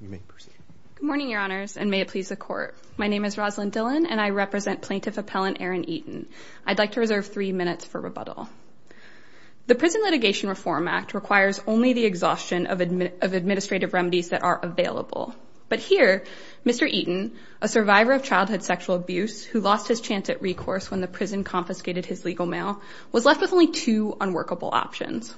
Good morning, Your Honors, and may it please the Court. My name is Rosalyn Dillon, and I represent Plaintiff Appellant Aaron Eaton. I'd like to reserve three minutes for rebuttal. The Prison Litigation Reform Act requires only the exhaustion of administrative remedies that are available. But here, Mr. Eaton, a survivor of childhood sexual abuse who lost his chance at recourse when the prison confiscated his legal mail, was left with only two unworkable options.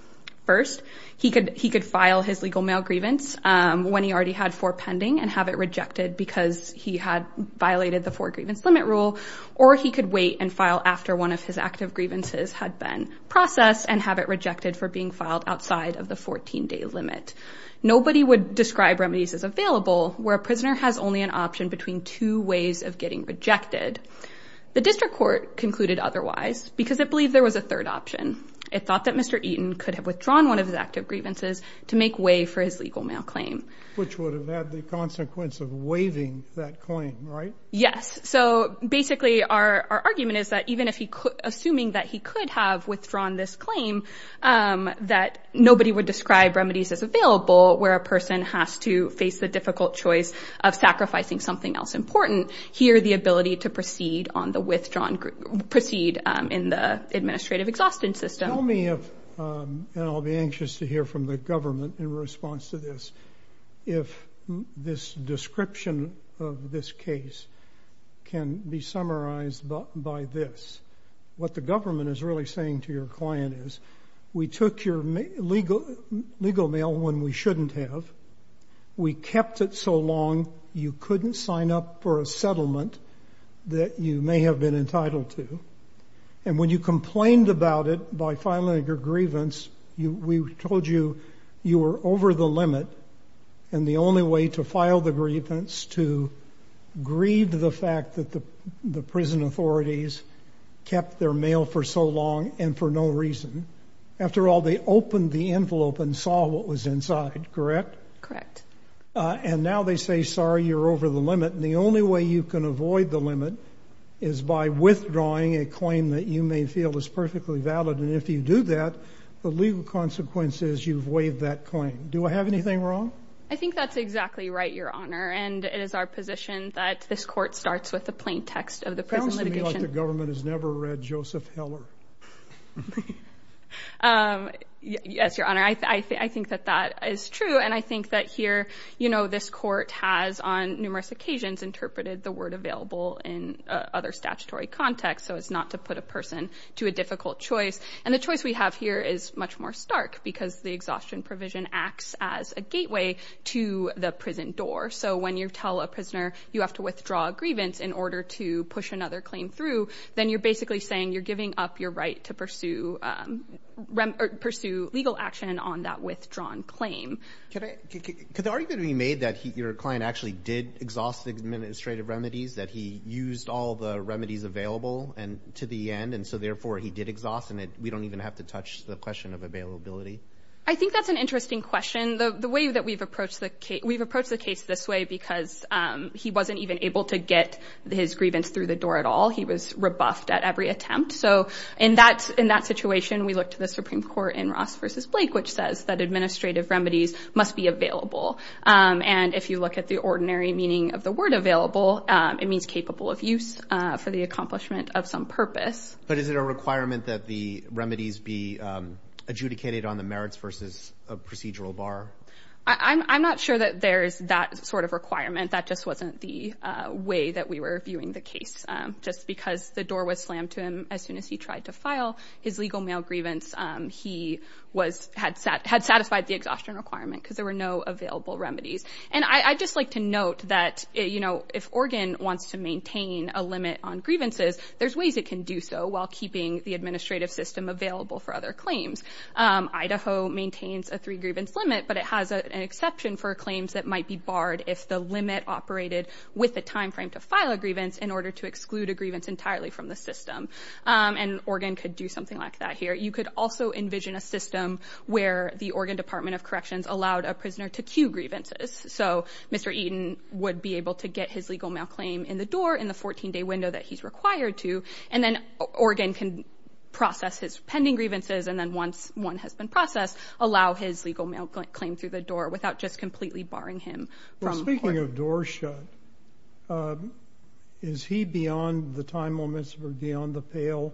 First, he could file his legal mail grievance when he already had four pending and have it rejected because he had violated the four grievance limit rule, or he could wait and file after one of his active grievances had been processed and have it rejected for being filed outside of the 14-day limit. Nobody would describe remedies as available where a prisoner has only an option between two ways of getting rejected. The District Court concluded otherwise because it believed there was a third option. It thought that Mr. Eaton could have withdrawn one of his active grievances to make way for his legal mail claim. Which would have had the consequence of waiving that claim, right? Yes. So basically, our argument is that even if he could, assuming that he could have withdrawn this claim, that nobody would describe remedies as available where a person has to face the difficult choice of sacrificing something else important. Here, the ability to proceed on the withdrawal, proceed in the administrative exhaustion system. Tell me if, and I'll be anxious to hear from the government in response to this, if this description of this case can be summarized by this. What the government is really saying to your client is, we took your legal mail when we shouldn't have, we kept it so long you couldn't sign up for a settlement that you may have been entitled to. And when you complained about it by filing your grievance, we told you you were over the limit and the only way to file the grievance to grieve the fact that the prison authorities kept their mail for so long and for no reason. After all, they opened the envelope and saw what was inside, correct? And now they say, sorry, you're over the limit. And the only way you can avoid the limit is by withdrawing a claim that you may feel is perfectly valid. And if you do that, the legal consequences, you've waived that claim. Do I have anything wrong? I think that's exactly right, Your Honor. And it is our position that this court starts with the plain text of the prison litigation. It sounds to me like the government has here, this court has on numerous occasions interpreted the word available in other statutory context. So it's not to put a person to a difficult choice. And the choice we have here is much more stark because the exhaustion provision acts as a gateway to the prison door. So when you tell a prisoner you have to withdraw a grievance in order to push another claim through, then you're basically saying you're giving up your right to pursue legal action on that case. Could the argument be made that your client actually did exhaust the administrative remedies, that he used all the remedies available to the end, and so therefore he did exhaust, and we don't even have to touch the question of availability? I think that's an interesting question. We've approached the case this way because he wasn't even able to get his grievance through the door at all. He was rebuffed at every attempt. So in that situation, we looked to the Supreme Court in Ross v. Blake, which says that And if you look at the ordinary meaning of the word available, it means capable of use for the accomplishment of some purpose. But is it a requirement that the remedies be adjudicated on the merits versus a procedural bar? I'm not sure that there's that sort of requirement. That just wasn't the way that we were viewing the case. Just because the door was slammed to him as soon as he tried to file his legal mail grievance, he had satisfied the exhaustion requirement because there were no available remedies. And I'd just like to note that if Oregon wants to maintain a limit on grievances, there's ways it can do so while keeping the administrative system available for other claims. Idaho maintains a three grievance limit, but it has an exception for claims that might be barred if the limit operated with the time frame to file a grievance in order to exclude a grievance entirely from the system. And Oregon could do something like that here. You could also envision a system where the Oregon Department of Corrections allowed a prisoner to queue grievances. So Mr. Eaton would be able to get his legal mail claim in the door in the 14 day window that he's required to. And then Oregon can process his pending grievances. And then once one has been processed, allow his legal mail claim through the door without just completely barring him. Well, speaking of door shut, is he beyond the time limits or beyond the pale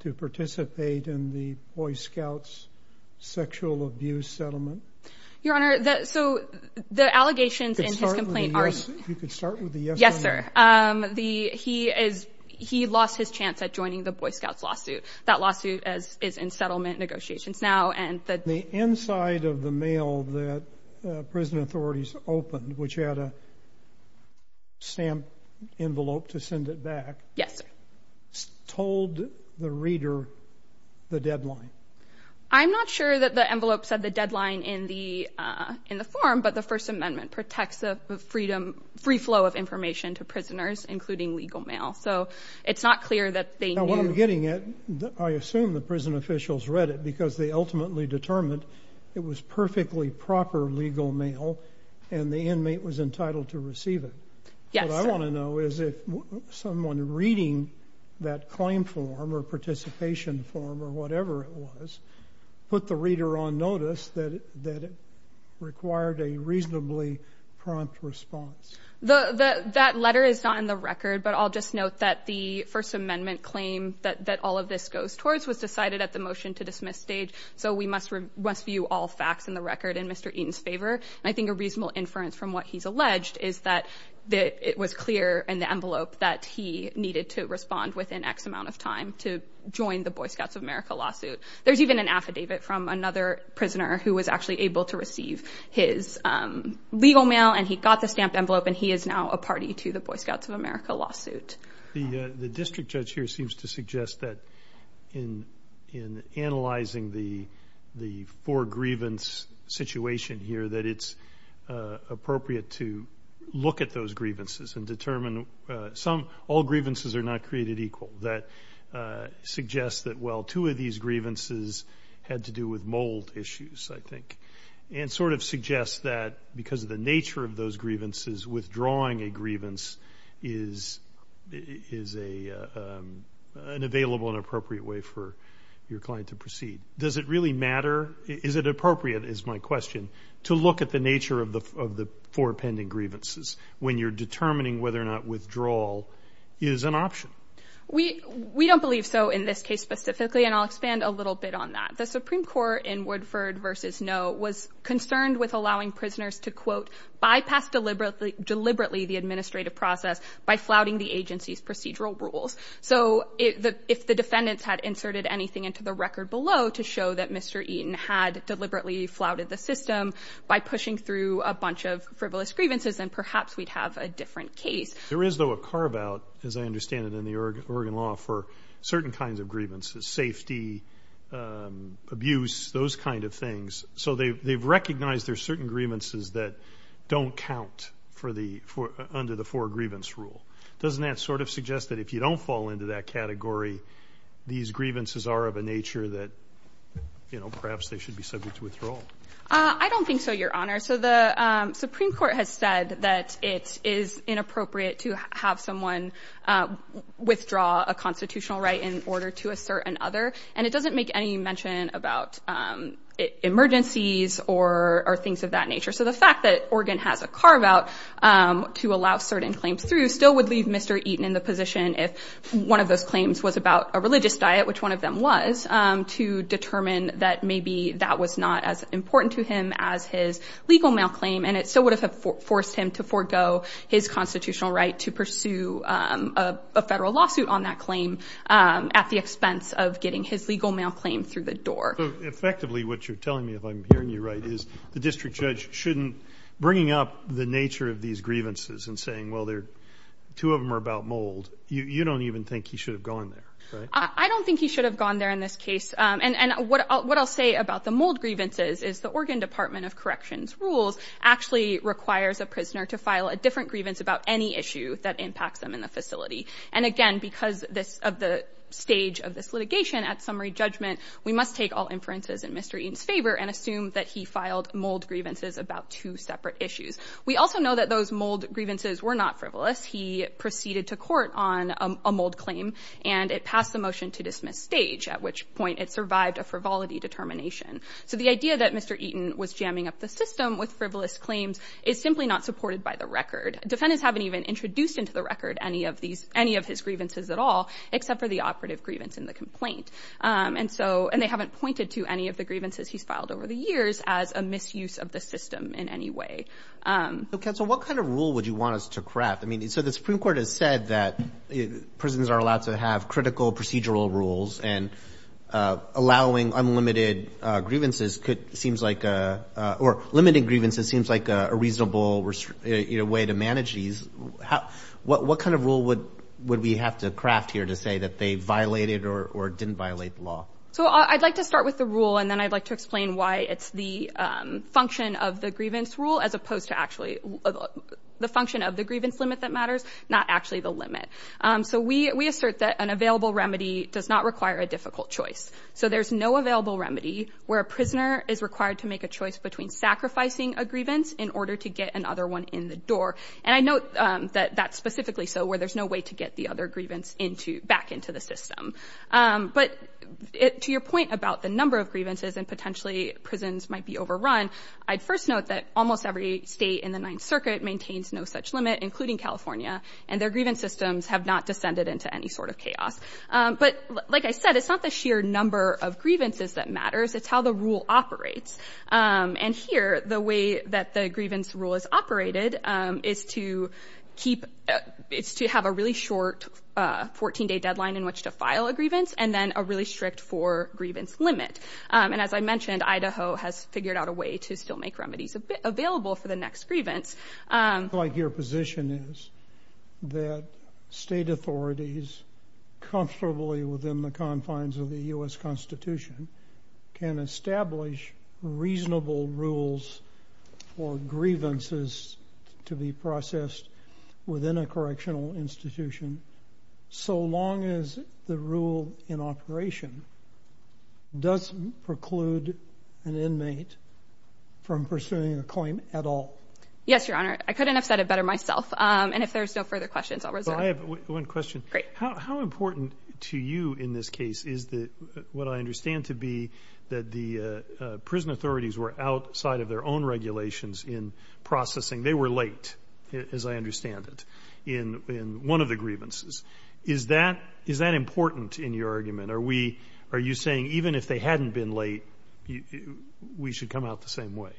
to participate in the Boy Scouts sexual abuse settlement? Your Honor, so the allegations in his complaint are... You could start with the yes. Yes, sir. He lost his chance at joining the Boy Scouts lawsuit. That lawsuit is in settlement negotiations now. The inside of the mail that prison authorities opened, which had a stamp envelope to send it back, told the reader the deadline. I'm not sure that the envelope said the deadline in the form, but the First Amendment protects the free flow of information to prisoners, including legal mail. So it's not clear that they knew. I assume the prison officials read it because they ultimately determined it was perfectly proper legal mail and the inmate was entitled to receive it. Yes, sir. What I want to know is if someone reading that claim form or participation form or whatever it was, put the reader on notice that it required a reasonably prompt response. That letter is not in the record, but I'll just note that the First Amendment claim that all of this goes towards was decided at the motion to dismiss stage. So we must review all facts in the record in Mr. Eaton's favor. And I think a reasonable inference from what he's alleged is that it was clear in the envelope that he needed to respond within X amount of time to join the Boy Scouts of America lawsuit. There's even an affidavit from another prisoner who was actually to receive his legal mail and he got the stamped envelope and he is now a party to the Boy Scouts of America lawsuit. The district judge here seems to suggest that in analyzing the four grievance situation here that it's appropriate to look at those grievances and determine some, all grievances are not created equal. That suggests that, well, two of these grievances had to do with mold issues, I think, and sort of suggests that because of the nature of those grievances, withdrawing a grievance is an available and appropriate way for your client to proceed. Does it really matter? Is it appropriate, is my question, to look at the nature of the four pending grievances when you're determining whether or not withdrawal is an option? We don't believe so in this case specifically, and I'll expand a little bit on that. The Supreme Court in Woodford v. Noe was concerned with allowing prisoners to, quote, bypass deliberately the administrative process by flouting the agency's procedural rules. So if the defendants had inserted anything into the record below to show that Mr. Eaton had deliberately flouted the system by pushing through a bunch of frivolous grievances, then perhaps we'd have a different case. There is, though, a carve-out, as I understand it, in the Oregon law for certain kinds of grievances, safety, abuse, those kind of things. So they've recognized there's certain grievances that don't count for the, under the four grievance rule. Doesn't that sort of suggest that if you don't fall into that category, these grievances are of a nature that, you know, perhaps they should be subject to withdrawal? I don't think so, Your Honor. So the Supreme to have someone withdraw a constitutional right in order to assert another, and it doesn't make any mention about emergencies or things of that nature. So the fact that Oregon has a carve-out to allow certain claims through still would leave Mr. Eaton in the position if one of those claims was about a religious diet, which one of them was, to determine that maybe that was not as important to him as his legal malclaim, and it still would have forced him to forego his constitutional right to pursue a federal lawsuit on that claim at the expense of getting his legal malclaim through the door. Effectively, what you're telling me, if I'm hearing you right, is the district judge shouldn't, bringing up the nature of these grievances and saying, well, two of them are about mold, you don't even think he should have gone there, right? I don't think he should have gone there in this case. And what I'll say about the mold grievances is the Oregon Department of Corrections rules actually requires a prisoner to file a different grievance about any issue that impacts them in the facility. And again, because of the stage of this litigation, at summary judgment, we must take all inferences in Mr. Eaton's favor and assume that he filed mold grievances about two separate issues. We also know that those mold grievances were not frivolous. He proceeded to court on a mold claim, and it passed the motion to dismiss stage, at which point it survived a frivolity determination. So the idea that Mr. Eaton was jamming up the system with frivolous claims is simply not supported by the record. Defendants haven't even introduced into the record any of these, any of his grievances at all, except for the operative grievance in the complaint. And so, and they haven't pointed to any of the grievances he's filed over the years as a misuse of the system in any way. Okay, so what kind of rule would you want us to craft? I mean, so the Supreme Court has said that prisons are allowed to have critical procedural rules, and allowing unlimited grievances seems like, or limiting grievances seems like a reasonable way to manage these. What kind of rule would we have to craft here to say that they violated or didn't violate the law? So I'd like to start with the rule, and then I'd like to explain why it's the function of the grievance rule as opposed to actually the function of the grievance limit that matters, not actually the limit. So we assert that an available remedy does not require a difficult choice. So there's no available remedy where a prisoner is required to make a choice between sacrificing a grievance in order to get another one in the door. And I note that that's specifically so where there's no way to get the other grievance back into the system. But to your point about the number of grievances and potentially prisons might be including California, and their grievance systems have not descended into any sort of chaos. But like I said, it's not the sheer number of grievances that matters, it's how the rule operates. And here, the way that the grievance rule is operated is to keep, it's to have a really short 14-day deadline in which to file a grievance, and then a really strict four grievance limit. And as I mentioned, Idaho has figured out a way to still make remedies available for the next grievance. I feel like your position is that state authorities comfortably within the confines of the U.S. Constitution can establish reasonable rules for grievances to be processed within a correctional institution, so long as the rule in operation doesn't preclude an inmate from pursuing a claim at all? Yes, Your Honor. I couldn't have said it better myself. And if there's no further questions, I'll reserve. I have one question. Great. How important to you in this case is what I understand to be that the prison authorities were outside of their own regulations in processing. They were late, as I understand it, in one of the grievances. Is that important in your argument? Are you saying even if they hadn't been late, we should come out the same way?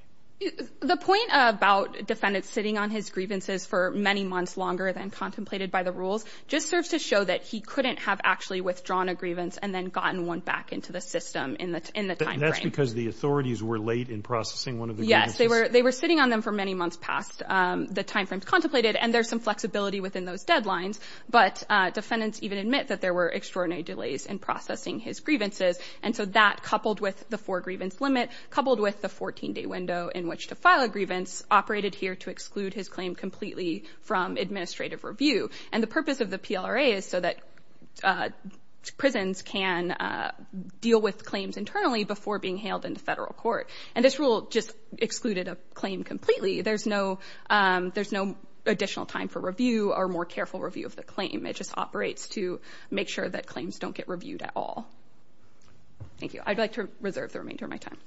The point about defendants sitting on his grievances for many months longer than contemplated by the rules just serves to show that he couldn't have actually withdrawn a grievance and then gotten one back into the system in the time frame. That's because the authorities were late in processing one of the grievances? Yes. They were sitting on them for many months past the time frame contemplated, and there's some flexibility within those deadlines. But defendants even admit that there were extraordinary delays in processing his grievances. And so that, coupled with the grievance limit, coupled with the 14-day window in which to file a grievance, operated here to exclude his claim completely from administrative review. And the purpose of the PLRA is so that prisons can deal with claims internally before being hailed into federal court. And this rule just excluded a claim completely. There's no additional time for review or more careful review of the claim. It just operates to make sure that claims don't get reviewed at all. Thank you. I'd like to reserve the remainder of my time.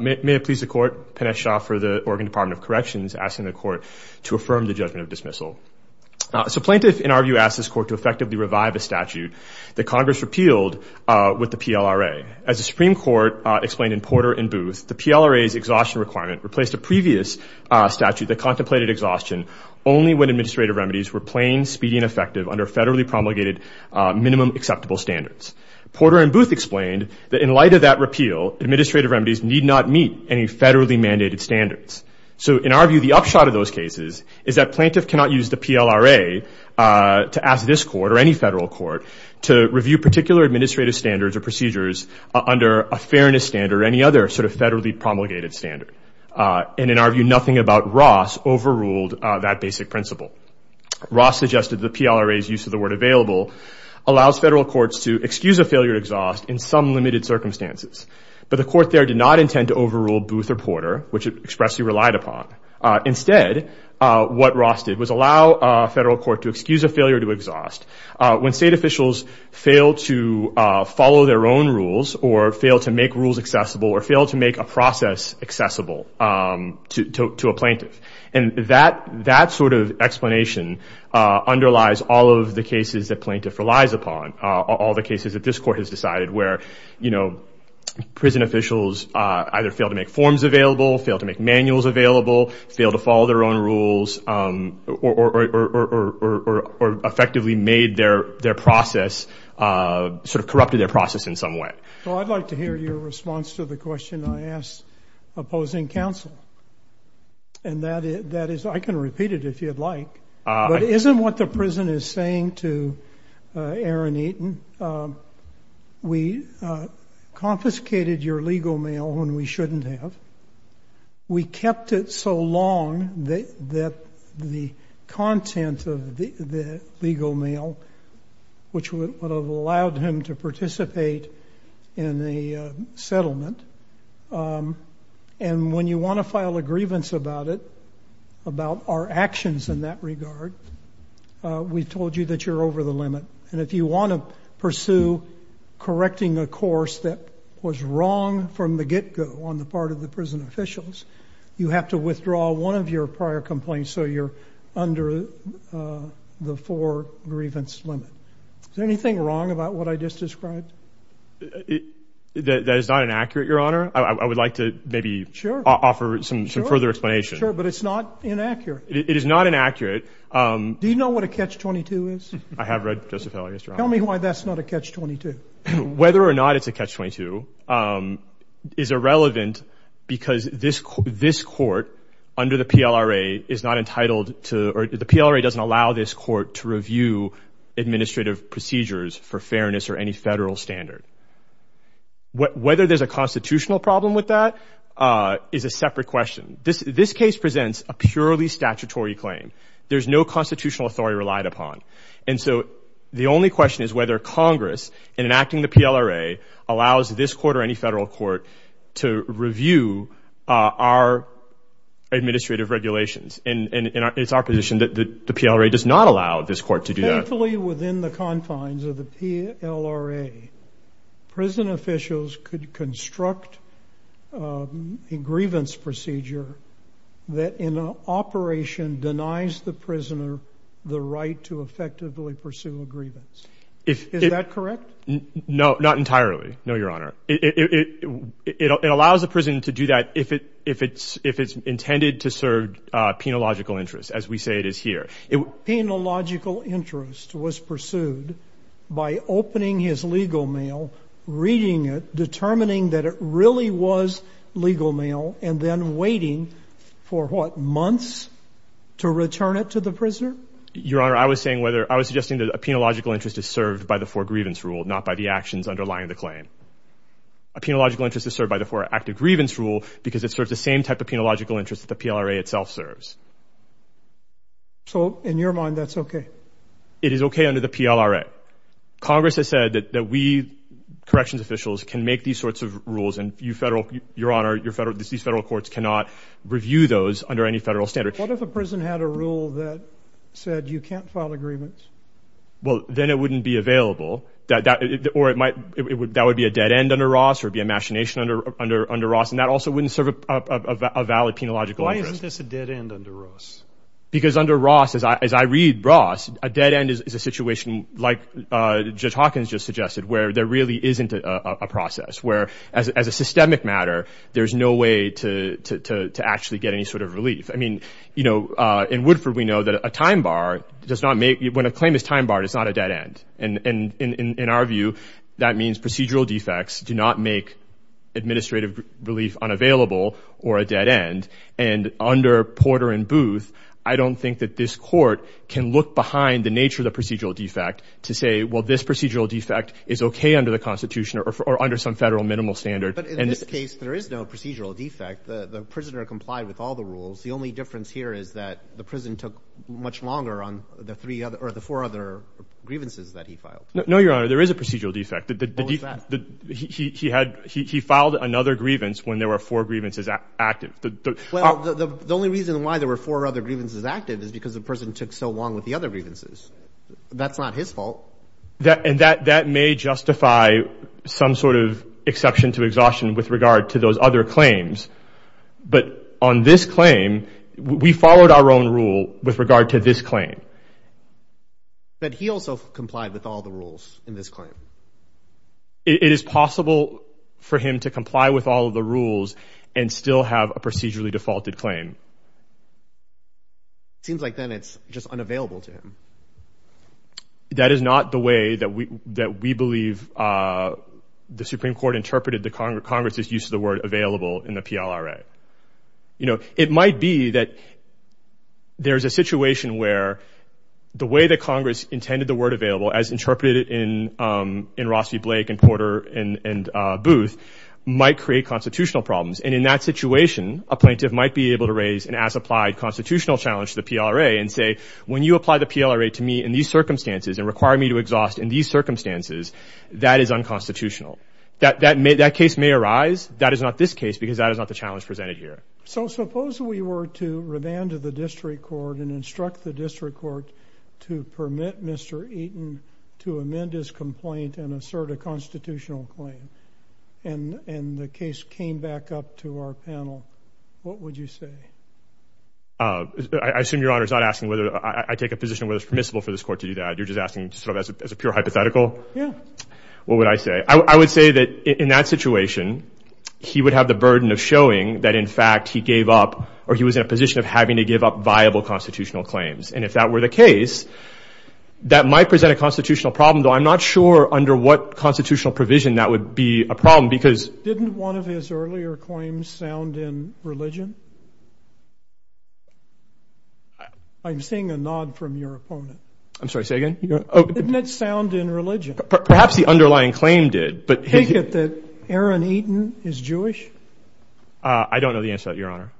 May it please the court. Pinesh Shah for the Oregon Department of Corrections asking the court to affirm the judgment of dismissal. So plaintiff, in our view, asked this court to As the Supreme Court explained in Porter and Booth, the PLRA's exhaustion requirement replaced a previous statute that contemplated exhaustion only when administrative remedies were plain, speedy, and effective under federally promulgated minimum acceptable standards. Porter and Booth explained that in light of that repeal, administrative remedies need not meet any federally mandated standards. So in our view, the upshot of those cases is that plaintiff cannot use the PLRA to ask this court or any federal court to review particular administrative standards or procedures under a fairness standard or any other sort of federally promulgated standard. And in our view, nothing about Ross overruled that basic principle. Ross suggested the PLRA's use of the word available allows federal courts to excuse a failure to exhaust in some limited circumstances. But the court there did not intend to overrule Booth or Porter, which it expressly relied upon. Instead, what Ross did was allow a federal court to excuse a failure to exhaust. When state officials fail to follow their own rules, or fail to make rules accessible, or fail to make a process accessible to a plaintiff. And that sort of explanation underlies all of the cases that plaintiff relies upon, all the cases that this court has decided, where prison officials either fail to make forms available, fail to make manuals available, fail to follow their own rules, or effectively made their process, sort of corrupted their process in some way. Well, I'd like to hear your response to the question I asked opposing counsel. And that is, I can repeat it if you'd like, but isn't what the prison is saying to Aaron Eaton, we confiscated your legal mail when we kept it so long that the content of the legal mail, which would have allowed him to participate in the settlement. And when you want to file a grievance about it, about our actions in that regard, we told you that you're over the limit. And if you want to pursue correcting a course that was wrong from the get-go on the part of the prison officials, you have to withdraw one of your prior complaints, so you're under the four grievance limit. Is there anything wrong about what I just described? That is not inaccurate, Your Honor. I would like to maybe offer some further explanation. Sure, but it's not inaccurate. It is not inaccurate. Do you know what a catch-22 is? I have read Joseph Heller, Yes, Your Honor. Tell me why that's not a catch-22. Whether or not it's a catch-22 is irrelevant because this court under the PLRA is not entitled to, or the PLRA doesn't allow this court to review administrative procedures for fairness or any federal standard. Whether there's a constitutional problem with that is a separate question. This case presents a purely statutory claim. There's no constitutional authority relied upon. And so the only question is whether Congress, in enacting the PLRA, allows this court or any federal court to review our administrative regulations. And it's our position that the PLRA does not allow this court to do that. Thankfully, within the confines of the PLRA, prison officials could construct a grievance procedure that, in operation, denies the prisoner the right to effectively pursue a grievance. Is that correct? No, not entirely. No, Your Honor. It allows the prison to do that if it's intended to serve penological interests, as we say it is here. Penological interest was pursued by opening his legal mail, reading it, determining that it really was legal mail, and then waiting for, what, months to return it to the prisoner? Your Honor, I was saying whether a penological interest is served by the For Grievance Rule, not by the actions underlying the claim. A penological interest is served by the For Active Grievance Rule because it serves the same type of penological interest that the PLRA itself serves. So, in your mind, that's okay? It is okay under the PLRA. Congress has said that we, corrections officials, can make these sorts of rules, and you, Your Honor, these federal courts cannot review those under any federal standard. What if a prison had a rule that said you can't file a grievance? Well, then it wouldn't be available, or that would be a dead end under Ross, or be a machination under Ross, and that also wouldn't serve a valid penological interest. Why isn't this a dead end under Ross? Because under Ross, as I read Ross, a dead end is a situation, like Judge Hawkins just suggested, where there really isn't a process, where, as a systemic matter, there's no way to actually get any sort of relief. I mean, you know, in Woodford, we know that a time bar does not make, when a claim is time barred, it's not a dead end. And in our view, that means procedural defects do not make administrative relief unavailable or a dead end. And under Porter and Booth, I don't think that this Court can look behind the nature of the procedural defect to say, well, this procedural defect is okay under the Constitution or under some federal minimal standard. In this case, there is no procedural defect. The prisoner complied with all the rules. The only difference here is that the prison took much longer on the three other or the four other grievances that he filed. No, Your Honor, there is a procedural defect. What was that? He had – he filed another grievance when there were four grievances active. Well, the only reason why there were four other grievances active is because the person took so long with the other grievances. That's not his fault. And that may justify some sort of exception to exhaustion with regard to those other claims. But on this claim, we followed our own rule with regard to this claim. But he also complied with all the rules in this claim. It is possible for him to comply with all of the rules and still have a procedurally defaulted claim. Seems like then it's just unavailable to him. That is not the way that we believe the Supreme Court interpreted the Congress' use of the word available in the PLRA. You know, it might be that there's a situation where the way that Congress intended the word available, as interpreted in Ross v. Blake and Porter and Booth, might create constitutional problems. And in that situation, a plaintiff might be able to raise an as-applied constitutional challenge to the PLRA and say, when you apply the PLRA to me in these circumstances and require me to exhaust in these circumstances, that is unconstitutional. That case may arise. That is not this case because that is not the challenge presented here. So suppose we were to remand to the district court and instruct the district court to permit Mr. Eaton to amend his complaint and assert a constitutional claim. And the case came back up to our panel. What would you say? I assume Your Honor is not asking whether I take a position of whether it's permissible for this court to do that. You're just asking sort of as a pure hypothetical? Yeah. What would I say? I would say that in that situation, he would have the burden of showing that, in fact, he gave up or he was in a position of having to give up viable constitutional claims. And if that were the case, that might present a constitutional problem, though I'm not sure under what constitutional provision that would be a problem because— Sound in religion? I'm seeing a nod from your opponent. I'm sorry, say again? Didn't it sound in religion? Perhaps the underlying claim did, but— Take it that Aaron Eaton is Jewish? I don't know the answer to that, Your Honor.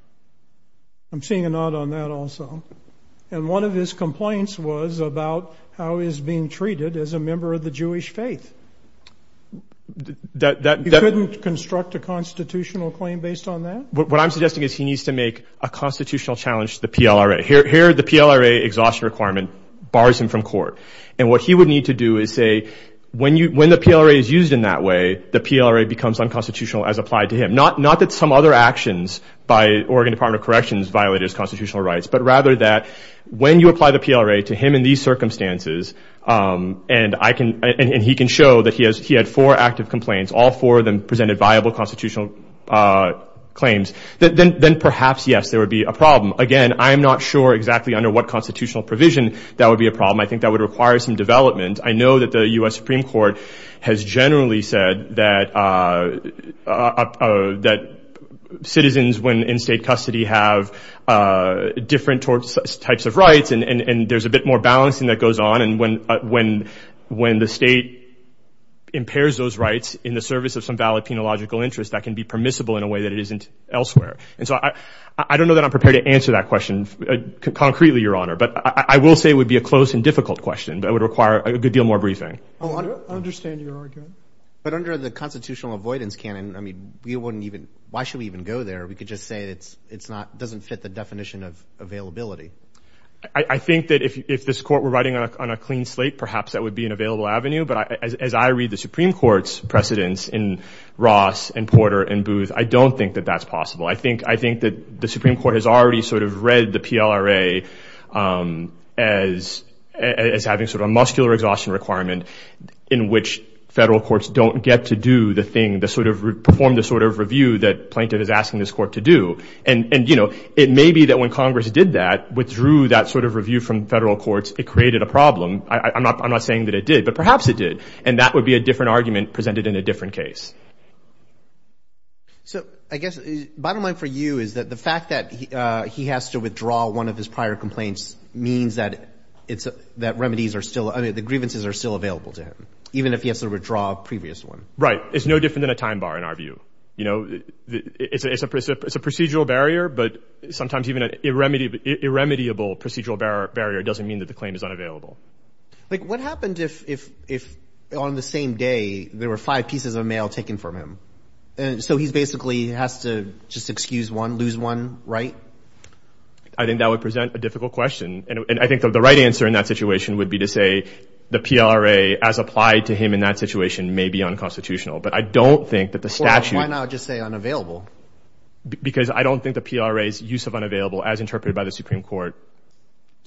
I'm seeing a nod on that also. And one of his complaints was about how he's being treated as a member of the Jewish faith. You couldn't construct a constitutional claim based on that? What I'm suggesting is he needs to make a constitutional challenge to the PLRA. Here, the PLRA exhaustion requirement bars him from court. And what he would need to do is say, when the PLRA is used in that way, the PLRA becomes unconstitutional as applied to him. Not that some other actions by Oregon Department of Corrections violate his constitutional rights, but rather that when you apply the PLRA to him in these circumstances, and he can show that he had four active complaints, all four of them presented viable constitutional claims, then perhaps, yes, there would be a problem. Again, I'm not sure exactly under what constitutional provision that would be a problem. I think that would require some development. I know that the U.S. Supreme Court has generally said that citizens in state custody have different types of rights, and there's a bit more balancing that goes on, and when the state impairs those rights in the service of some valid penological interest, that can be permissible in a way that it isn't elsewhere. And so I don't know that I'm prepared to answer that question concretely, Your Honor, but I will say it would be a close and difficult question that would require a good deal more briefing. I understand your argument. But under the constitutional avoidance canon, I mean, why should we even go there? We could just say it doesn't fit the definition of availability. I think that if this Court were writing on a clean slate, perhaps that would be an available avenue. But as I read the Supreme Court's precedents in Ross and Porter and Booth, I don't think that that's possible. I think that the Supreme Court has already sort of read the PLRA as having sort of a muscular exhaustion requirement in which federal courts don't get to do the thing, perform the sort of review that Plaintiff is asking this Court to do. And, you know, it may be that when Congress did that, withdrew that sort of review from federal courts, it created a problem. I'm not saying that it did, but perhaps it did. And that would be a different argument presented in a different case. So I guess the bottom line for you is that the fact that he has to withdraw one of his prior complaints means that remedies are still, I mean, the grievances are still available to him, even if he has to withdraw a previous one. Right. It's no different than a time bar in our view. You know, it's a procedural barrier, but sometimes even an irremediable procedural barrier doesn't mean that the claim is unavailable. Like what happened if on the same day there were five pieces of mail taken from him? And so he basically has to just excuse one, lose one, right? I think that would present a difficult question. And I think the right answer in that situation would be to say the PLRA, as applied to him in that situation, may be unconstitutional. But I don't think that the statute. Well, why not just say unavailable? Because I don't think the PLRA's use of unavailable, as interpreted by the Supreme Court,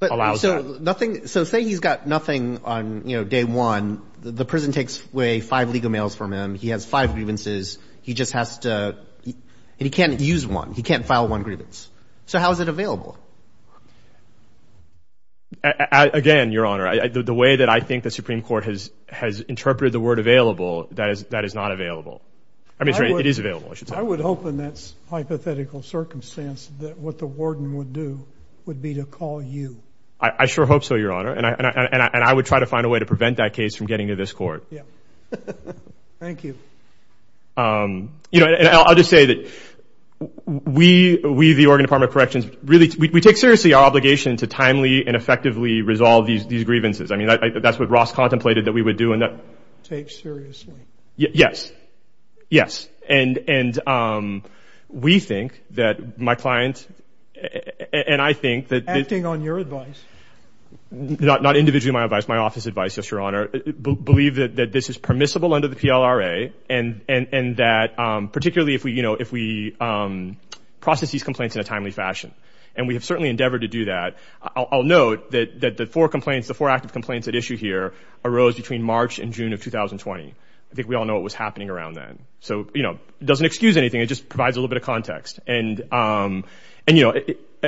allows that. So say he's got nothing on day one. The prison takes away five legal mails from him. He has five grievances. He just has to, and he can't use one. He can't file one grievance. So how is it available? Again, Your Honor, the way that I think the Supreme Court has interpreted the word available, that is not available. I mean, it is available, I should say. I would hope in that hypothetical circumstance that what the warden would do would be to call you. I sure hope so, Your Honor. And I would try to find a way to prevent that case from getting to this court. Yeah. Thank you. You know, and I'll just say that we, the Oregon Department of Corrections, really, we take seriously our obligation to timely and effectively resolve these grievances. I mean, that's what Ross contemplated that we would do. Take seriously. Yes. Yes. And we think that my client, and I think that... Acting on your advice. Not individually my advice, my office advice, yes, Your Honor. Believe that this is permissible under the PLRA, and that particularly if we process these complaints in a timely fashion. And we have certainly endeavored to do that. I'll note that the four complaints, the four active complaints at issue here arose between March and June of 2020. I think we all know what was happening around then. So, you know, it doesn't excuse anything. It just provides a little bit of context. And, you know,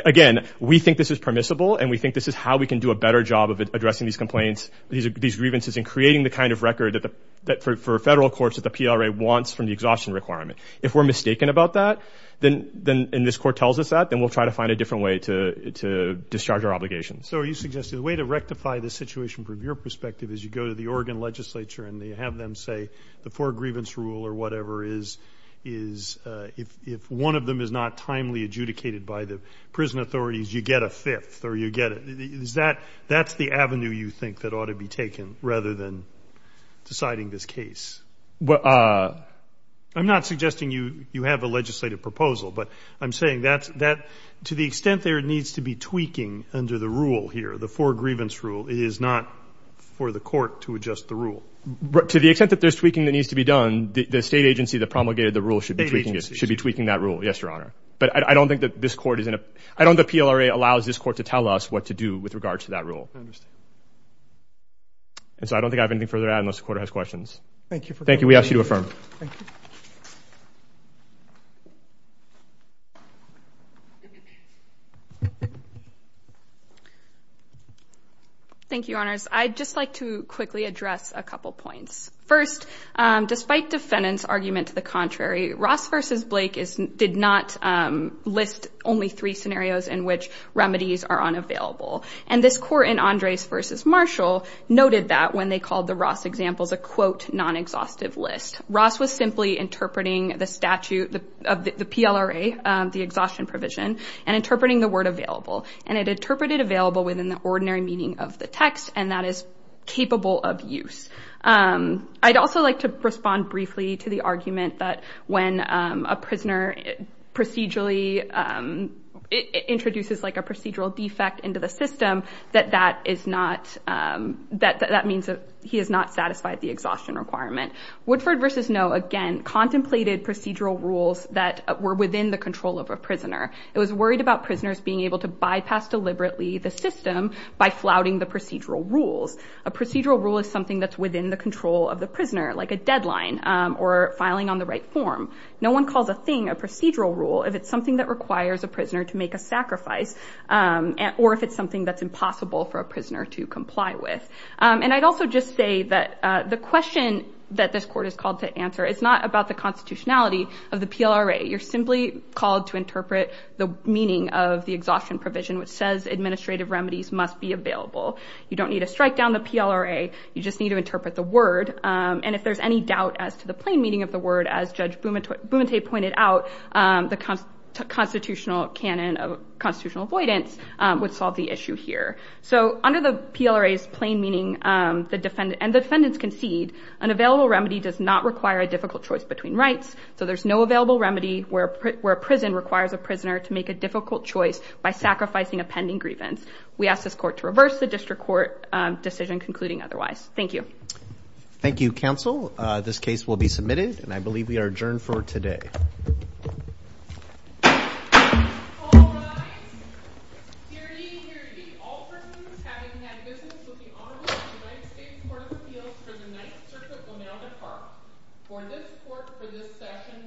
again, we think this is permissible. And we think this is how we can do a better job of addressing these complaints, these grievances, and creating the kind of record that for federal courts that the PLRA wants from the exhaustion requirement. If we're mistaken about that, and this court tells us that, then we'll try to find a different way to discharge our obligations. So are you suggesting the way to rectify the situation from your perspective is you go to the Oregon legislature and they have them say the four grievance rule or whatever is if one of them is not timely adjudicated by the prison authorities, you get a fifth or you get it. That's the avenue you think that ought to be taken rather than deciding this case. I'm not suggesting you have a legislative proposal, but I'm saying that to the extent there needs to be tweaking under the rule here, the four grievance rule, it is not for the court to adjust the rule. To the extent that there's tweaking that needs to be done, the state agency that promulgated the rule should be tweaking it, should be tweaking that rule. Yes, Your Honor. But I don't think that this court is in a—I don't think the PLRA allows this court to tell us what to do with regards to that rule. I understand. And so I don't think I have anything further to add unless the court has questions. Thank you for coming. Thank you. We ask you to affirm. Thank you, Your Honors. I'd just like to quickly address a couple points. First, despite defendant's argument to the contrary, Ross v. Blake did not list only three scenarios in which remedies are unavailable. And this court in Andres v. Marshall noted that when they called the Ross examples a quote, non-exhaustive list. Ross was simply interpreting the statute of the PLRA, the exhaustion provision, and interpreting the word available, and it interpreted available within the ordinary meaning of the text, and that is capable of use. I'd also like to respond briefly to the argument that when a prisoner procedurally introduces like a procedural defect into the system, that that is not—that means that he has not satisfied the exhaustion requirement. Woodford v. Ngo, again, contemplated procedural rules that were within the control of a prisoner. It was worried about prisoners being able to bypass deliberately the system by flouting the procedural rules. A procedural rule is something that's within the control of the prisoner, like a deadline or filing on the right form. No one calls a thing a procedural rule if it's something that requires a prisoner to make a sacrifice or if it's something that's impossible for a prisoner to comply with. And I'd also just say that the question that this court is called to answer is not about the constitutionality of the PLRA. You're simply called to interpret the meaning of the exhaustion provision, which says administrative remedies must be available. You don't need to strike down the PLRA. You just need to interpret the word, and if there's any doubt as to the plain meaning of the word, as Judge Bumate pointed out, the constitutional canon of constitutional avoidance would solve the issue here. So under the PLRA's plain meaning, and the defendants concede, an available remedy does not require a difficult choice between rights. So there's no available remedy where a prison requires a prisoner to make a difficult choice by sacrificing a pending grievance. We ask this court to reverse the district court decision concluding otherwise. Thank you. Thank you, counsel. This case will be submitted, and I believe we are adjourned for today. The session now stands adjourned.